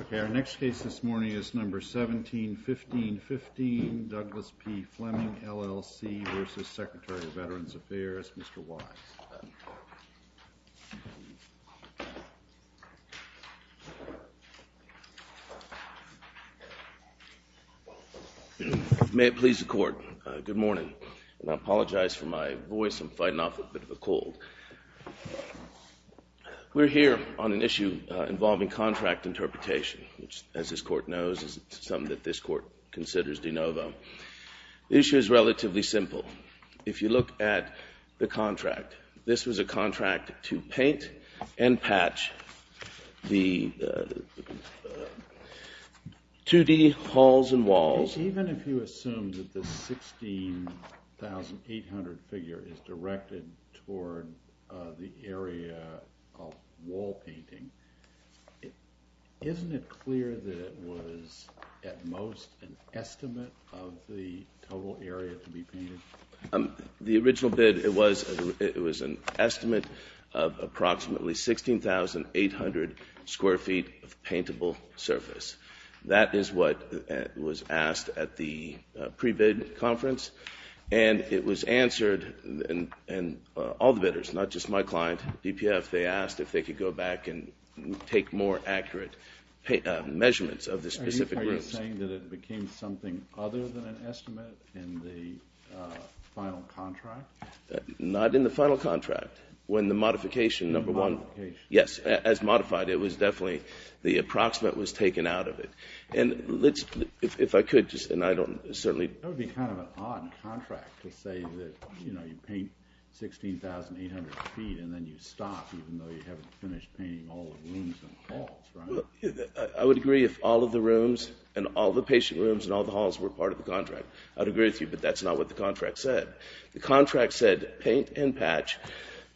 Okay, our next case this morning is number 17-15-15, Douglas P. Fleming, LLC, v. Secretary of Veterans Affairs, Mr. Wise. May it please the Court. Good morning. And I apologize for my voice, I'm fighting off a bit of a cold. We're here on an issue involving contract interpretation, which as this Court knows is something that this Court considers de novo. The issue is relatively simple. If you look at the contract, this was a contract to paint and patch the 2-D halls and walls. Even if you assume that the 16,800 figure is directed toward the area of wall painting, isn't it clear that it was at most an estimate of the total area to be painted? The original bid, it was an estimate of approximately 16,800 square feet of paintable surface. That is what was asked at the pre-bid conference. And it was answered, and all the bidders, not just my client, DPF, they asked if they could go back and take more accurate measurements of the specific groups. Are you saying that it became something other than an estimate in the final contract? Not in the final contract. When the modification, number one, yes, as modified, it was definitely, the approximate was taken out of it. And let's, if I could just, and I don't, certainly. That would be kind of an odd contract to say that, you know, you paint 16,800 feet and then you stop, even though you haven't finished painting all the rooms and halls, right? I would agree if all of the rooms and all the patient rooms and all the halls were part of the contract. I'd agree with you, but that's not what the contract said. The contract said, paint and patch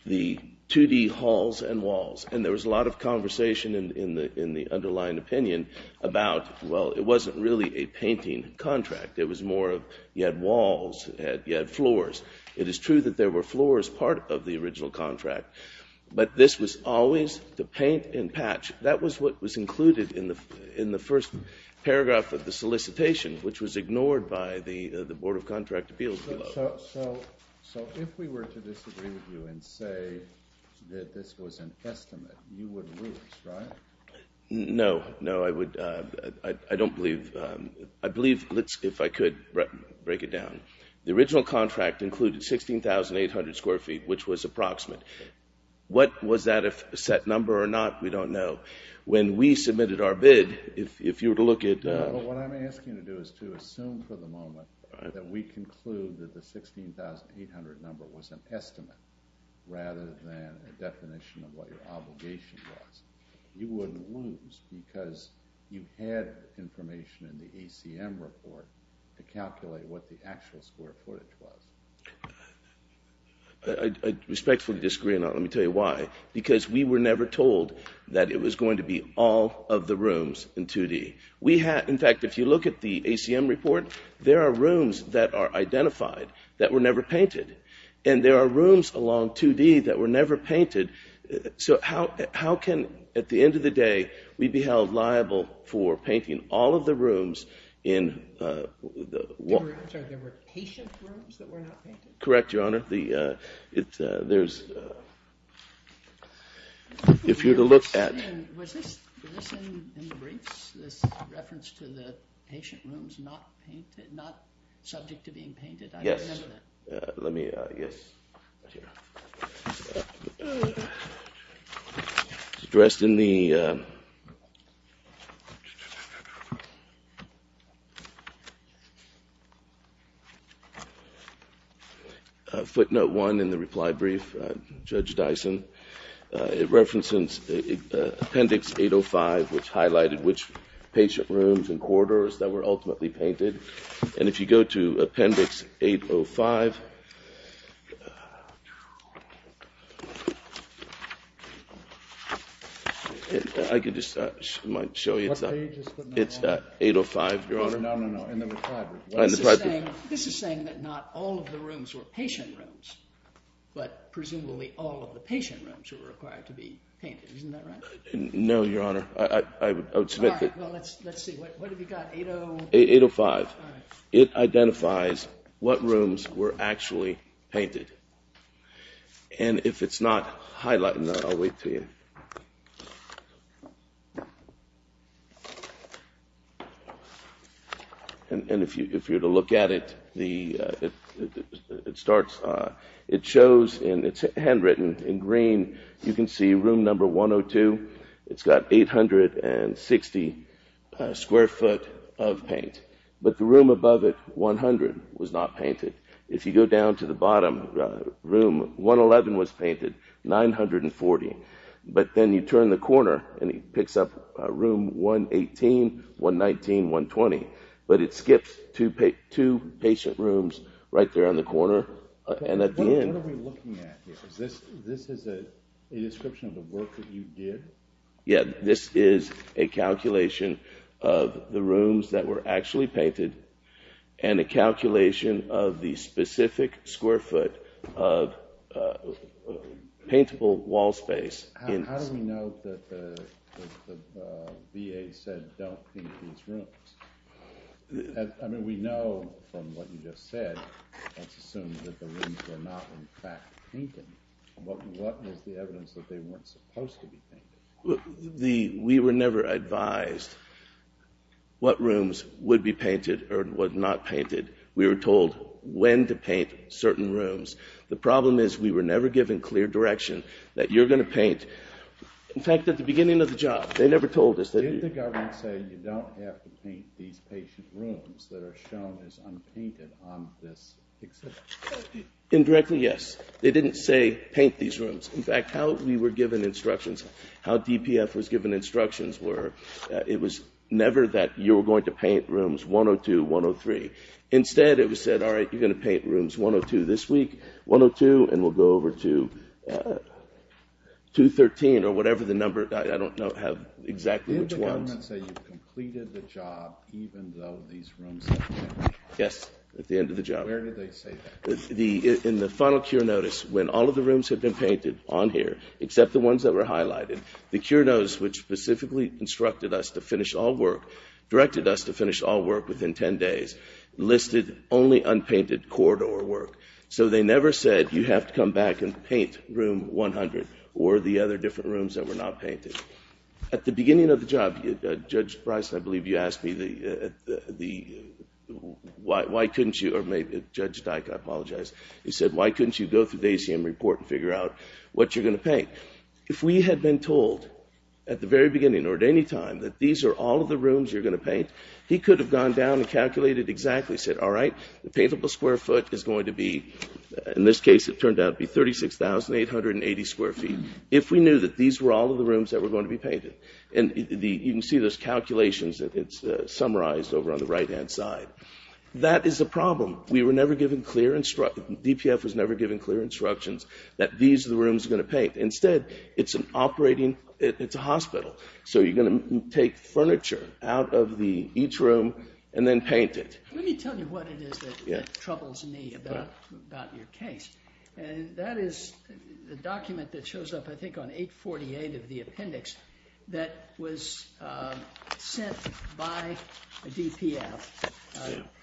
the 2-D halls and walls. And there was a lot of conversation in the underlying opinion about, well, it wasn't really a painting contract. It was more of, you had walls, you had floors. It is true that there were floors part of the original contract, but this was always the paint and patch. That was what was included in the first paragraph of the solicitation, which was ignored by the Board of Contract Appeals below. So if we were to disagree with you and say that this was an estimate, you would lose, right? No. No, I would, I don't believe, I believe, let's, if I could break it down. The original contract included 16,800 square feet, which was approximate. What was that, a set number or not, we don't know. When we submitted our bid, if you were to look at- No, but what I'm asking you to do is to assume for the moment that we conclude that the 16,800 number was an estimate rather than a definition of what your obligation was. You wouldn't lose because you had information in the ACM report to calculate what the actual score for it was. I respectfully disagree, and let me tell you why. Because we were never told that it was going to be all of the rooms in 2D. We had, in fact, if you look at the ACM report, there are rooms that are identified that were never painted. And there are rooms along 2D that were never painted. So how can, at the end of the day, we be held liable for painting all of the rooms in- I'm sorry, there were patient rooms that were not painted? Correct, Your Honor. There's, if you were to look at- Was this in the briefs, this reference to the patient rooms not painted, not subject to being painted? Yes. Let me, yes. It's addressed in the footnote one in the reply brief, Judge Dyson. It references Appendix 805, which highlighted which patient rooms and corridors that were ultimately painted. And if you go to Appendix 805, I could just show you, it's 805, Your Honor. No, no, no. In the reply brief. This is saying that not all of the rooms were patient rooms, but presumably all of the patient rooms were required to be painted. Isn't that right? No, Your Honor. I would submit that- All right. Well, let's see. What have you got? 805. 805. It identifies what rooms were actually painted. And if it's not highlighted, I'll wait for you. And if you were to look at it, it starts, it shows, and it's handwritten in green, you can see room number 102. It's got 860 square foot of paint, but the room above it, 100, was not painted. If you go down to the bottom room, 111 was painted, 940. But then you turn the corner, and it picks up room 118, 119, 120. But it skips two patient rooms right there on the corner, and at the end- What are we looking at here? This is a description of the work that you did? Yeah, this is a calculation of the rooms that were actually painted, and a calculation of the specific square foot of paintable wall space. How do we know that the VA said don't paint these rooms? I mean, we know from what you just said, let's assume that the rooms were not in fact painted. What was the evidence that they weren't supposed to be painted? We were never advised what rooms would be painted or were not painted. We were told when to paint certain rooms. The problem is we were never given clear direction that you're going to paint. In fact, at the beginning of the job, they never told us that- These patient rooms that are shown as unpainted on this exhibit. Indirectly, yes. They didn't say paint these rooms. In fact, how we were given instructions, how DPF was given instructions were it was never that you were going to paint rooms 102, 103. Instead, it was said, all right, you're going to paint rooms 102 this week, 102, and we'll go over to 213 or whatever the number. I don't know exactly which ones. You didn't say you completed the job even though these rooms were painted. Yes, at the end of the job. Where did they say that? In the final cure notice, when all of the rooms had been painted on here, except the ones that were highlighted, the cure notice which specifically instructed us to finish all work, directed us to finish all work within 10 days, listed only unpainted corridor work. They never said you have to come back and paint room 100 or the other different rooms that were not painted. At the beginning of the job, Judge Bryson, I believe you asked me, why couldn't you, or Judge Dyke, I apologize. He said, why couldn't you go through the ACM report and figure out what you're going to paint? If we had been told at the very beginning or at any time that these are all of the rooms you're going to paint, he could have gone down and calculated exactly, said, all right, the paintable square foot is going to be, in this case it turned out to be 36,880 square feet. If we knew that these were all of the rooms that were going to be painted, and you can see those calculations that it's summarized over on the right-hand side, that is a problem. We were never given clear, DPF was never given clear instructions that these are the rooms we're going to paint. Instead, it's an operating, it's a hospital, so you're going to take furniture out of each room and then paint it. Let me tell you what it is that troubles me about your case. That is the document that shows up, I think, on 848 of the appendix that was sent by a DPF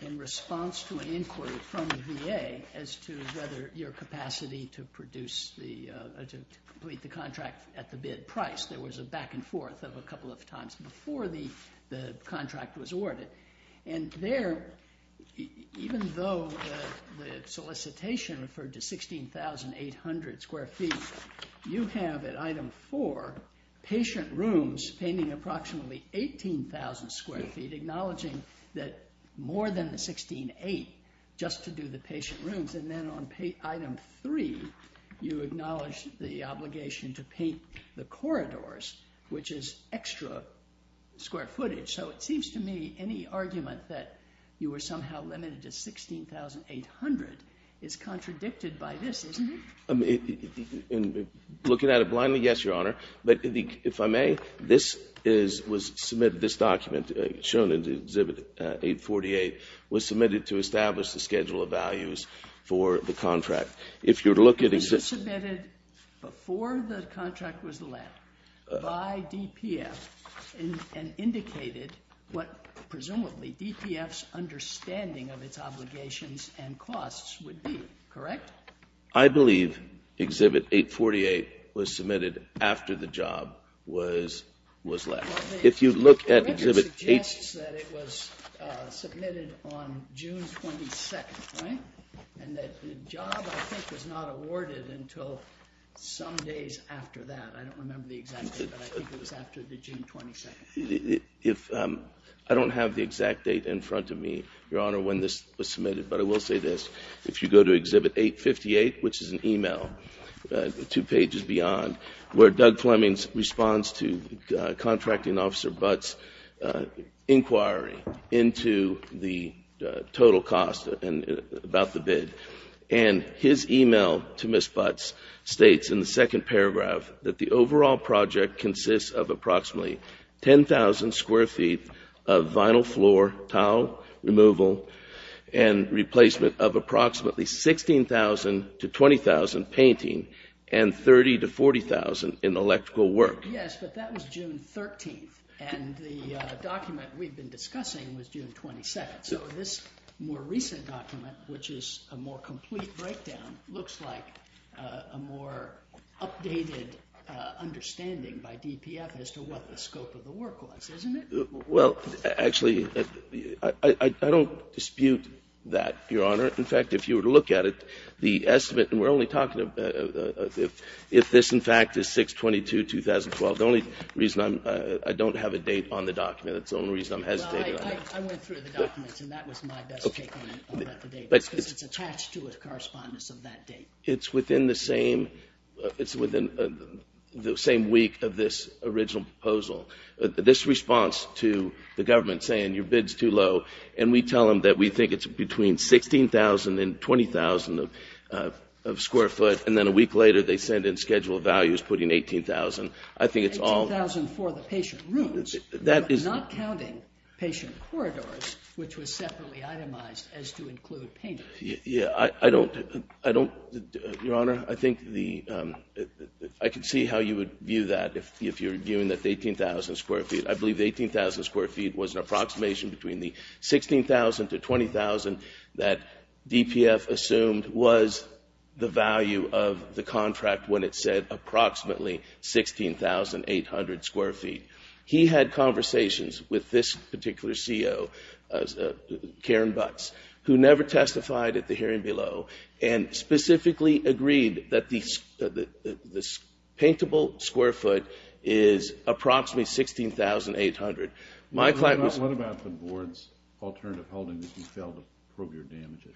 in response to an inquiry from the VA as to whether your capacity to produce the, to complete the contract at the bid price. There was a back and forth of a couple of times before the contract was awarded. And there, even though the solicitation referred to 16,800 square feet, you have at item 4, patient rooms painting approximately 18,000 square feet, acknowledging that more than the 16,800 just to do the patient rooms. And then on item 3, you acknowledge the obligation to paint the corridors, which is extra square footage. So it seems to me any argument that you were somehow limited to 16,800 is contradicted by this, isn't it? Looking at it blindly, yes, Your Honor. But if I may, this is, was submitted, this document shown in exhibit 848, was submitted to establish the schedule of values for the contract. If you look at... It was submitted before the contract was led by DPF and indicated what, presumably, DPF's understanding of its obligations and costs would be, correct? I believe exhibit 848 was submitted after the job was, was led. If you look at exhibit 8... It suggests that it was submitted on June 22nd, right? And that the job, I think, was not awarded until some days after that. I don't remember the exact date, but I think it was after the June 22nd. If... I don't have the exact date in front of me, Your Honor, when this was submitted, but I will say this. If you go to exhibit 858, which is an email, two pages beyond, where Doug Fleming responds to Contracting Officer Butt's inquiry into the total cost and about the bid, and his email to Ms. Butt states in the second paragraph that the overall project consists of approximately 10,000 square feet of vinyl floor, towel removal, and replacement of approximately 16,000 to 20,000 painting and 30,000 to 40,000 in electrical work. Yes, but that was June 13th, and the document we've been discussing was June 22nd. So this more recent document, which is a more complete breakdown, looks like a more updated understanding by DPF as to what the scope of the work was, isn't it? Well, actually, I don't dispute that, Your Honor. In fact, if you were to look at it, the estimate, and we're only talking about if this, in fact, is 6-22-2012, the only reason I don't have a date on the document, that's the only reason I'm hesitating on it. Well, I went through the documents, and that was my best take on it about the date, because it's attached to a correspondence of that date. It's within the same week of this original proposal. This response to the government saying your bid's too low, and we tell them that we think it's between 16,000 and 20,000 of square foot, and then a week later, they send in schedule of values putting 18,000. I think it's all... 18,000 for the patient rooms, but not counting patient corridors, which was separately itemized as to include painting. Yeah, I don't... Your Honor, I think the... I can see how you would view that, if you're viewing that 18,000 square feet. I believe 18,000 square feet was an approximation between the 16,000 to 20,000 that DPF assumed, and was the value of the contract when it said approximately 16,800 square feet. He had conversations with this particular CO, Karen Butts, who never testified at the hearing below, and specifically agreed that the paintable square foot is approximately 16,800. My client was... What about the board's alternative holding that you failed to prove your damages?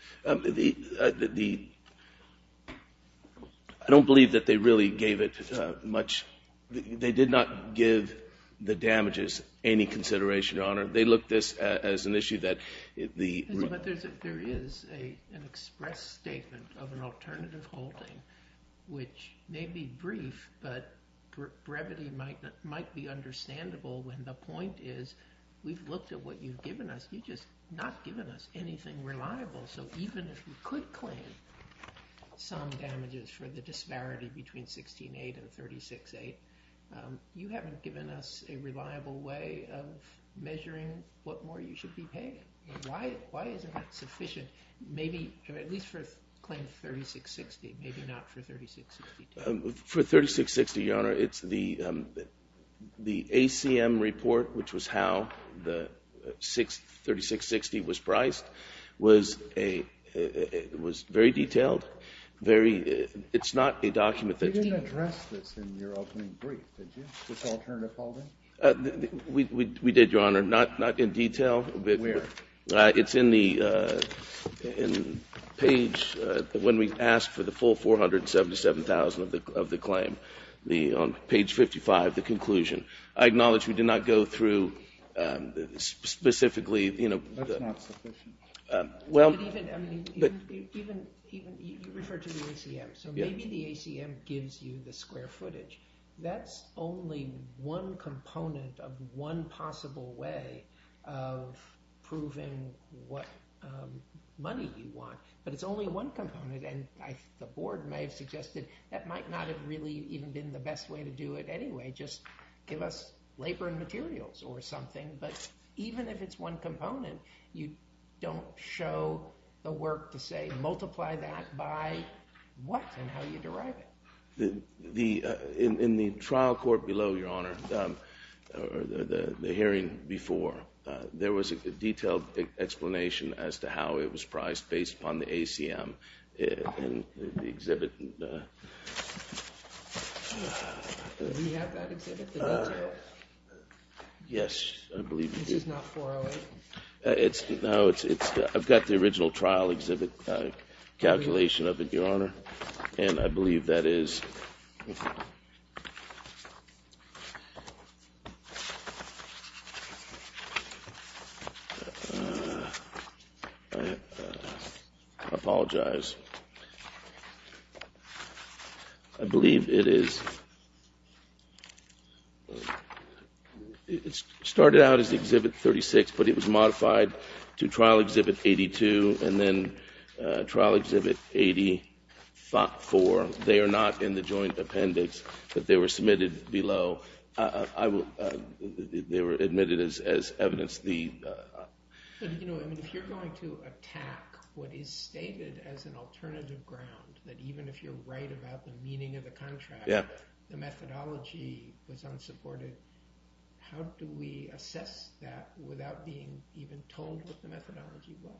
The... I don't believe that they really gave it much... They did not give the damages any consideration, Your Honor. They looked at this as an issue that the... But there is an express statement of an alternative holding, which may be brief, but brevity might be understandable, when the point is, we've looked at what you've given us. You've just not given us anything reliable, so even if we could claim some damages for the disparity between 16,800 and 36,800, you haven't given us a reliable way of measuring what more you should be paying. Why isn't that sufficient? Maybe, at least for claim 36,600. Maybe not for 36,600. For 36,600, Your Honor, it's the... The ACM report, which was how the 36,600 was priced, was a... It was very detailed, very... It's not a document that... You didn't address this in your opening brief, did you, this alternative holding? We did, Your Honor, not in detail. Where? It's in the... In page... When we asked for the full 477,000 of the claim, on page 55, the conclusion. I acknowledge we did not go through specifically... That's not sufficient. Even... You referred to the ACM, so maybe the ACM gives you the square footage. That's only one component of one possible way of proving what money you want, but it's only one component, and the board may have suggested that might not have really even been the best way to do it anyway, just give us labor and materials or something, but even if it's one component, you don't show the work to say, multiply that by what and how you derive it. The... In the trial court below, Your Honor, or the hearing before, there was a detailed explanation as to how it was priced based upon the ACM, and the exhibit... Do you have that exhibit, the detail? Yes, I believe you do. This is not 408? No, it's... I've got the original trial exhibit, calculation of it, Your Honor, and I believe that is... I apologize. I believe it is... It started out as Exhibit 36, but it was modified to Trial Exhibit 82, and then Trial Exhibit 84. They are not in the joint appendix, but they were submitted below. I will... They were admitted as evidence. If you're going to attack what is stated as an alternative ground, that even if you're right about the meaning of the contract, the methodology was unsupported, how do we assess that without being even told what the methodology was?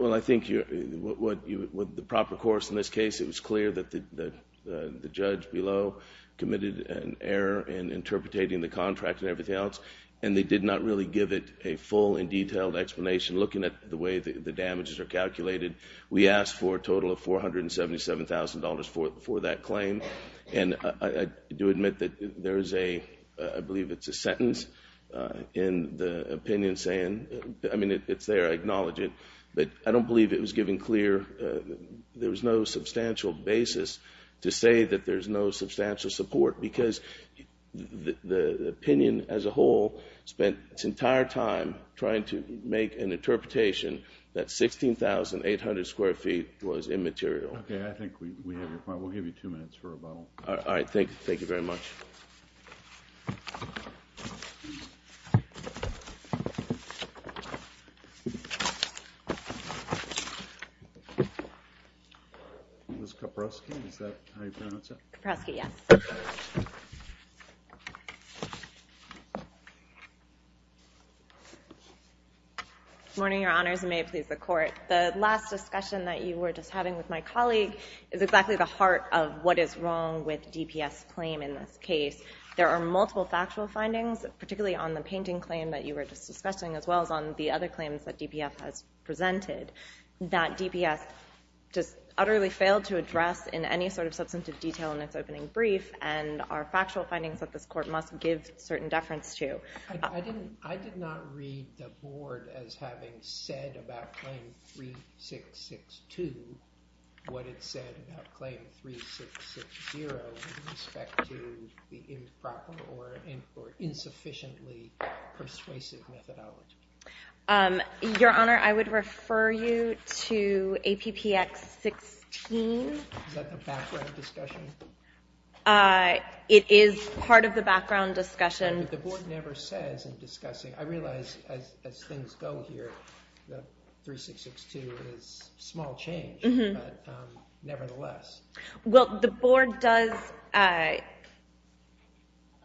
Well, I think you're... With the proper course in this case, it was clear that the judge below committed an error in interpreting the contract and everything else, and they did not really give it a full and detailed explanation looking at the way the damages are calculated. We asked for a total of $477,000 for that claim, and I do admit that there is a... I believe it's a sentence in the opinion saying... I mean, it's there. I acknowledge it. But I don't believe it was given clear... There was no substantial basis to say that there's no substantial support because the opinion as a whole spent its entire time trying to make an interpretation that 16,800 square feet was immaterial. Okay, I think we have your point. We'll give you two minutes for rebuttal. All right, thank you very much. Ms. Kaprosky, is that how you pronounce it? Kaprosky, yes. Good morning, Your Honors, and may it please the Court. The last discussion that you were just having with my colleague is exactly the heart of what is wrong with DPS's claim in this case. There are multiple factual findings, particularly on the painting claim that you were just discussing, as well as on the other claims that DPF has presented, that DPS just utterly failed to address in any sort of substantive detail in its opening brief, and are factual findings that this Court must give certain deference to. I did not read the Board as having said about Claim 3662 what it said about Claim 3660 with respect to the improper or insufficiently persuasive methodology. Your Honor, I would refer you to APPX 16. Is that the background discussion? It is part of the background discussion. But the Board never says in discussing. I realize as things go here that 3662 is a small change, but nevertheless. Well, the Board does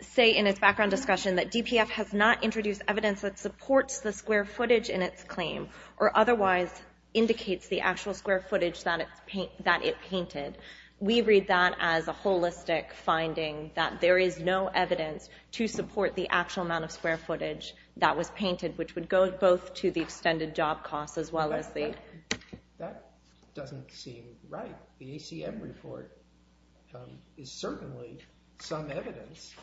say in its background discussion that DPF has not introduced evidence that supports the square footage in its claim, or otherwise indicates the actual square footage that it painted. We read that as a holistic finding, that there is no evidence to support the actual amount of square footage that was painted, which would go both to the extended job costs as well as the... That doesn't seem right. The ACM report is certainly some evidence.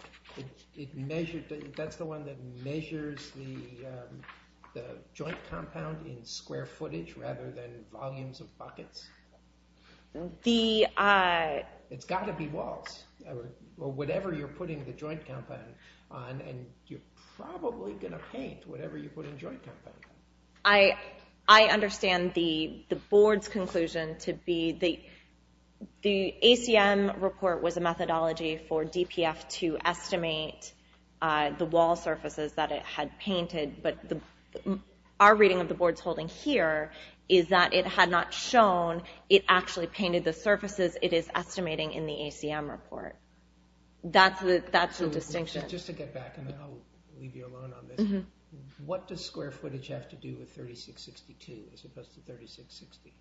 That's the one that measures the joint compound in square footage rather than volumes of buckets? The... It's got to be walls, or whatever you're putting the joint compound on, and you're probably going to paint whatever you put in joint compound. I understand the Board's conclusion to be the ACM report was a methodology for DPF to estimate the wall surfaces that it had painted, but our reading of the Board's holding here is that it had not shown it actually painted the surfaces it is estimating in the ACM report. That's the distinction. Just to get back, and I'll leave you alone on this, what does square footage have to do with 3662 as opposed to 3660?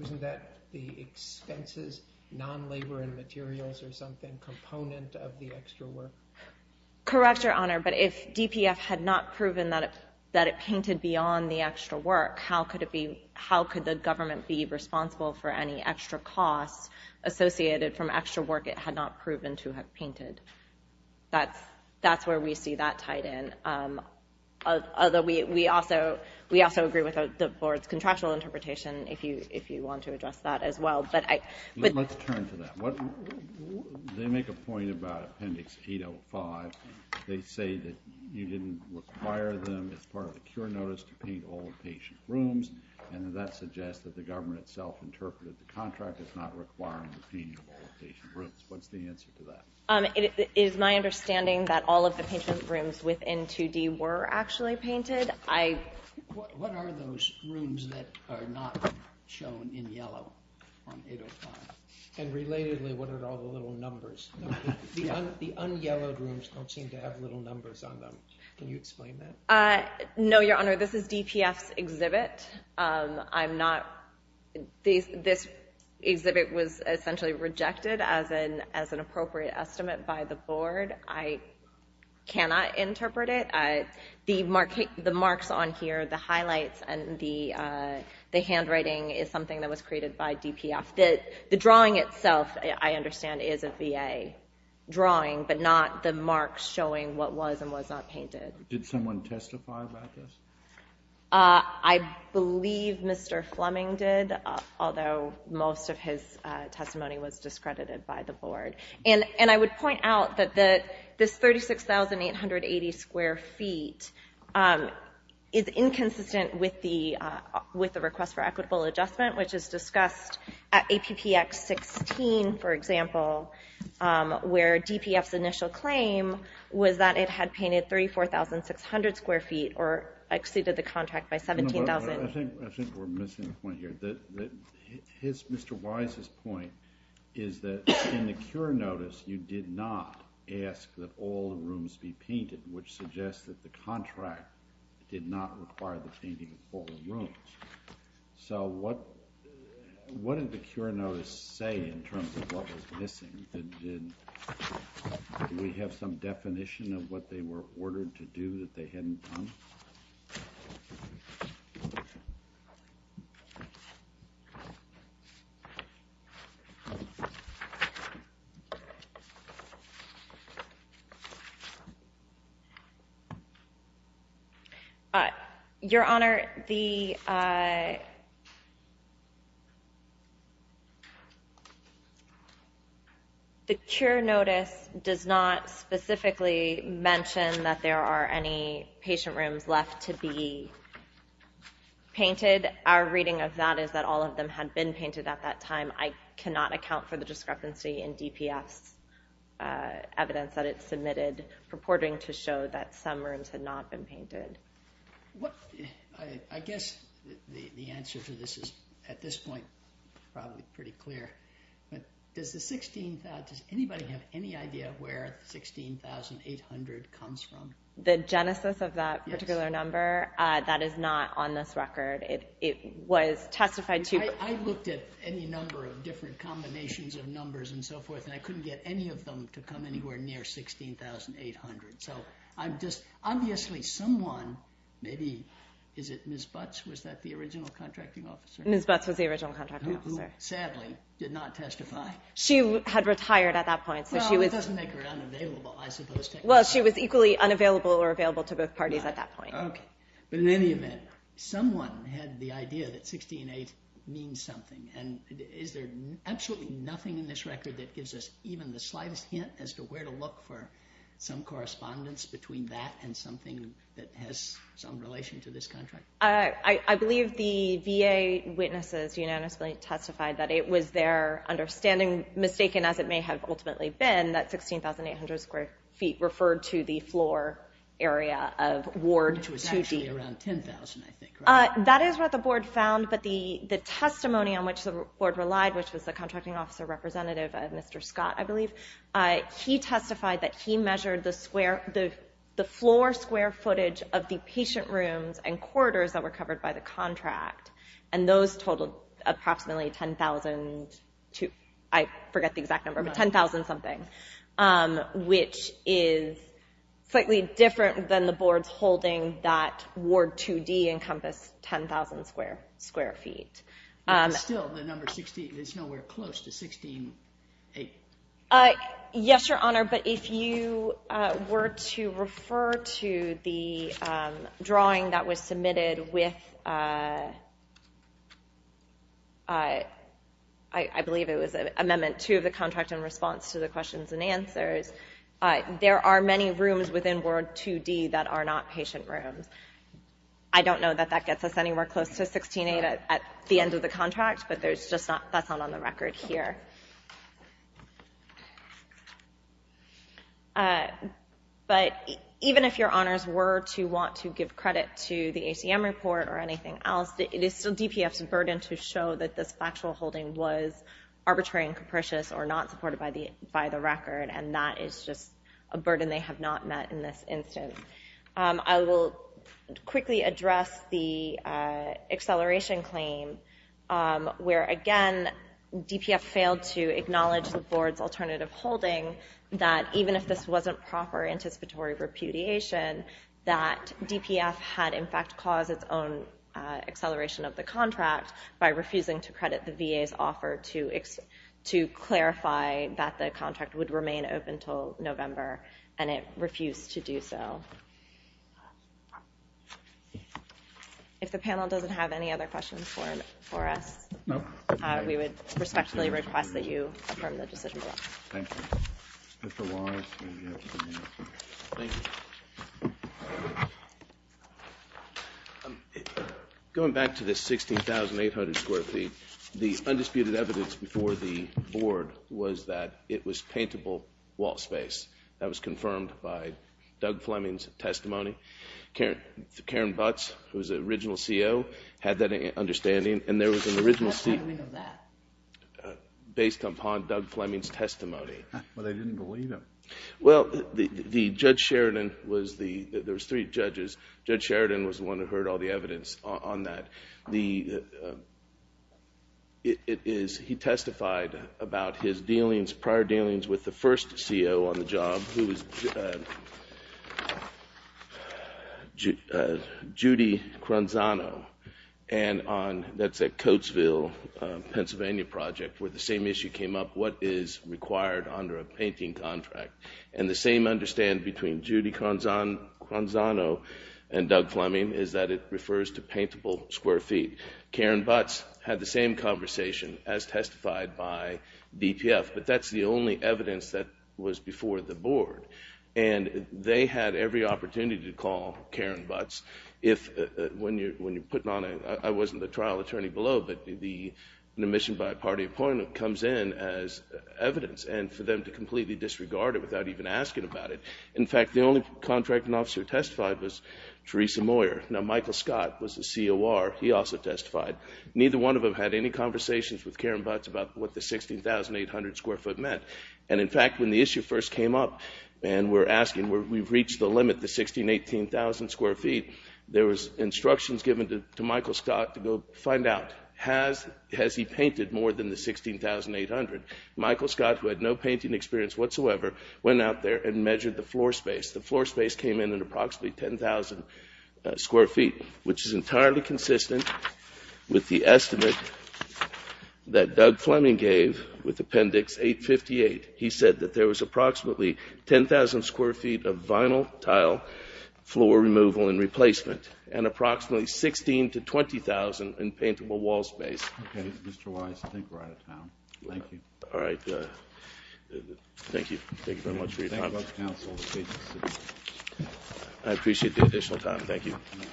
Isn't that the expenses, non-labor and materials or something, component of the extra work? Correct, Your Honor, but if DPF had not proven that it painted beyond the extra work, how could the government be responsible for any extra costs associated from extra work it had not proven to have painted? That's where we see that tied in, although we also agree with the Board's contractual interpretation if you want to address that as well. Let's turn to that. They make a point about Appendix 805. They say that you didn't require them, as part of the cure notice, to paint all the patient rooms, and that suggests that the government itself interpreted the contract as not requiring the painting of all the patient rooms. What's the answer to that? It is my understanding that all of the patient rooms within 2D were actually painted. What are those rooms that are not shown in yellow on 805? And relatedly, what are all the little numbers? The un-yellowed rooms don't seem to have little numbers on them. Can you explain that? No, Your Honor, this is DPF's exhibit. I'm not... This exhibit was essentially rejected as an appropriate estimate by the Board. I cannot interpret it. The marks on here, the highlights, and the handwriting is something that was created by DPF. The drawing itself, I understand, is a VA drawing, but not the marks showing what was and was not painted. Did someone testify about this? I believe Mr. Fleming did, although most of his testimony was discredited by the Board. And I would point out that this 36,880 square feet is inconsistent with the request for equitable adjustment, which is discussed at APPX 16, for example, where DPF's initial claim was that it had painted 34,600 square feet, or exceeded the contract by 17,000. I think we're missing a point here. Mr. Wise's point is that in the cure notice, you did not ask that all the rooms be painted, which suggests that the contract did not require the painting of all the rooms. So what did the cure notice say in terms of what was missing? Did we have some definition of what they were ordered to do that they hadn't done? Your Honor, the cure notice does not specifically mention that there are any patient rooms left to be painted. Our reading of that is that all of them had been painted at that time. I cannot account for the discrepancy in DPF's evidence that it submitted purporting to show that some rooms had not been painted. I guess the answer to this is, at this point, probably pretty clear. Does anybody have any idea where 16,800 comes from? The genesis of that particular number? That is not on this record. I looked at any number of different combinations of numbers and so forth, and I couldn't get any of them to come anywhere near 16,800. Obviously someone, maybe, is it Ms. Butts? Was that the original contracting officer? Ms. Butts was the original contracting officer. Who, sadly, did not testify. She had retired at that point. That doesn't make her unavailable, I suppose. She was equally unavailable or available to both parties at that point. In any event, someone had the idea that 16,800 means something. Is there absolutely nothing in this record that gives us even the slightest hint as to where to look for some correspondence between that and something that has some relation to this contract? I believe the VA witnesses unanimously testified that it was their understanding, mistaken as it may have ultimately been, that 16,800 square feet referred to the floor area of Ward 2D. Which was actually around 10,000, I think, right? That is what the Board found, but the testimony on which the Board relied, which was the contracting officer representative, Mr. Scott, I believe, he testified that he measured the floor square footage of the patient rooms and corridors that were covered by the contract. And those totaled approximately 10,000, I forget the exact number, but 10,000-something. Which is slightly different than the Boards holding that Ward 2D encompassed 10,000 square feet. But still, the number 16 is nowhere close to 16,800. Yes, Your Honor, but if you were to refer to the drawing that was submitted with, I believe it was Amendment 2 of the contract in response to the questions and answers, there are many rooms within Ward 2D that are not patient rooms. I don't know that that gets us anywhere close to 16,800 at the end of the contract, but that's not on the record here. But even if Your Honors were to want to give credit to the ACM report or anything else, it is still DPF's burden to show that this factual holding was arbitrary and capricious or not supported by the record. And that is just a burden they have not met in this instance. I will quickly address the acceleration claim, where again, DPF failed to acknowledge the Board's alternative holding that even if this wasn't proper anticipatory repudiation, that DPF had in fact caused its own acceleration of the contract by refusing to credit the VA's offer to clarify that the contract would remain open until November, and it refused to do so. If the panel doesn't have any other questions for us, we would respectfully request that you affirm the decision. Thank you. Going back to the 16,800 square feet, the undisputed evidence before the Board was that it was paintable wall space. That was confirmed by Doug Fleming's testimony. Karen Butts, who was the original CO, had that understanding, and there was an original statement based upon Doug Fleming's testimony. But they didn't believe him. Well, Judge Sheridan was the one who heard all the evidence on that. He testified about his dealings, his prior dealings with the first CO on the job, who was Judy Cranzano, and that's at Coatesville, Pennsylvania Project, where the same issue came up, what is required under a painting contract? And the same understand between Judy Cranzano and Doug Fleming is that it refers to paintable square feet. Karen Butts had the same conversation as testified by DPF, but that's the only evidence that was before the Board. And they had every opportunity to call Karen Butts. I wasn't the trial attorney below, but the omission by party appointment comes in as evidence, and for them to completely disregard it without even asking about it. In fact, the only contracting officer who testified was Teresa Moyer. Now, Michael Scott was the COR. He also testified. Neither one of them had any conversations with Karen Butts about what the 16,800 square foot meant. And in fact, when the issue first came up and we're asking, we've reached the limit, the 16,000, 18,000 square feet, there was instructions given to Michael Scott to go find out, has he painted more than the 16,800? Michael Scott, who had no painting experience whatsoever, went out there and measured the floor space. The floor space came in at approximately 10,000 square feet, which is entirely consistent with the estimate that Doug Fleming gave with Appendix 858. He said that there was approximately 10,000 square feet of vinyl tile floor removal and replacement, and approximately 16,000 to 20,000 in paintable wall space. Okay, Mr. Wise, I think we're out of time. Thank you. All right. Thank you. Thank you very much for your time. Thank you very much, counsel. I appreciate the additional time. Thank you.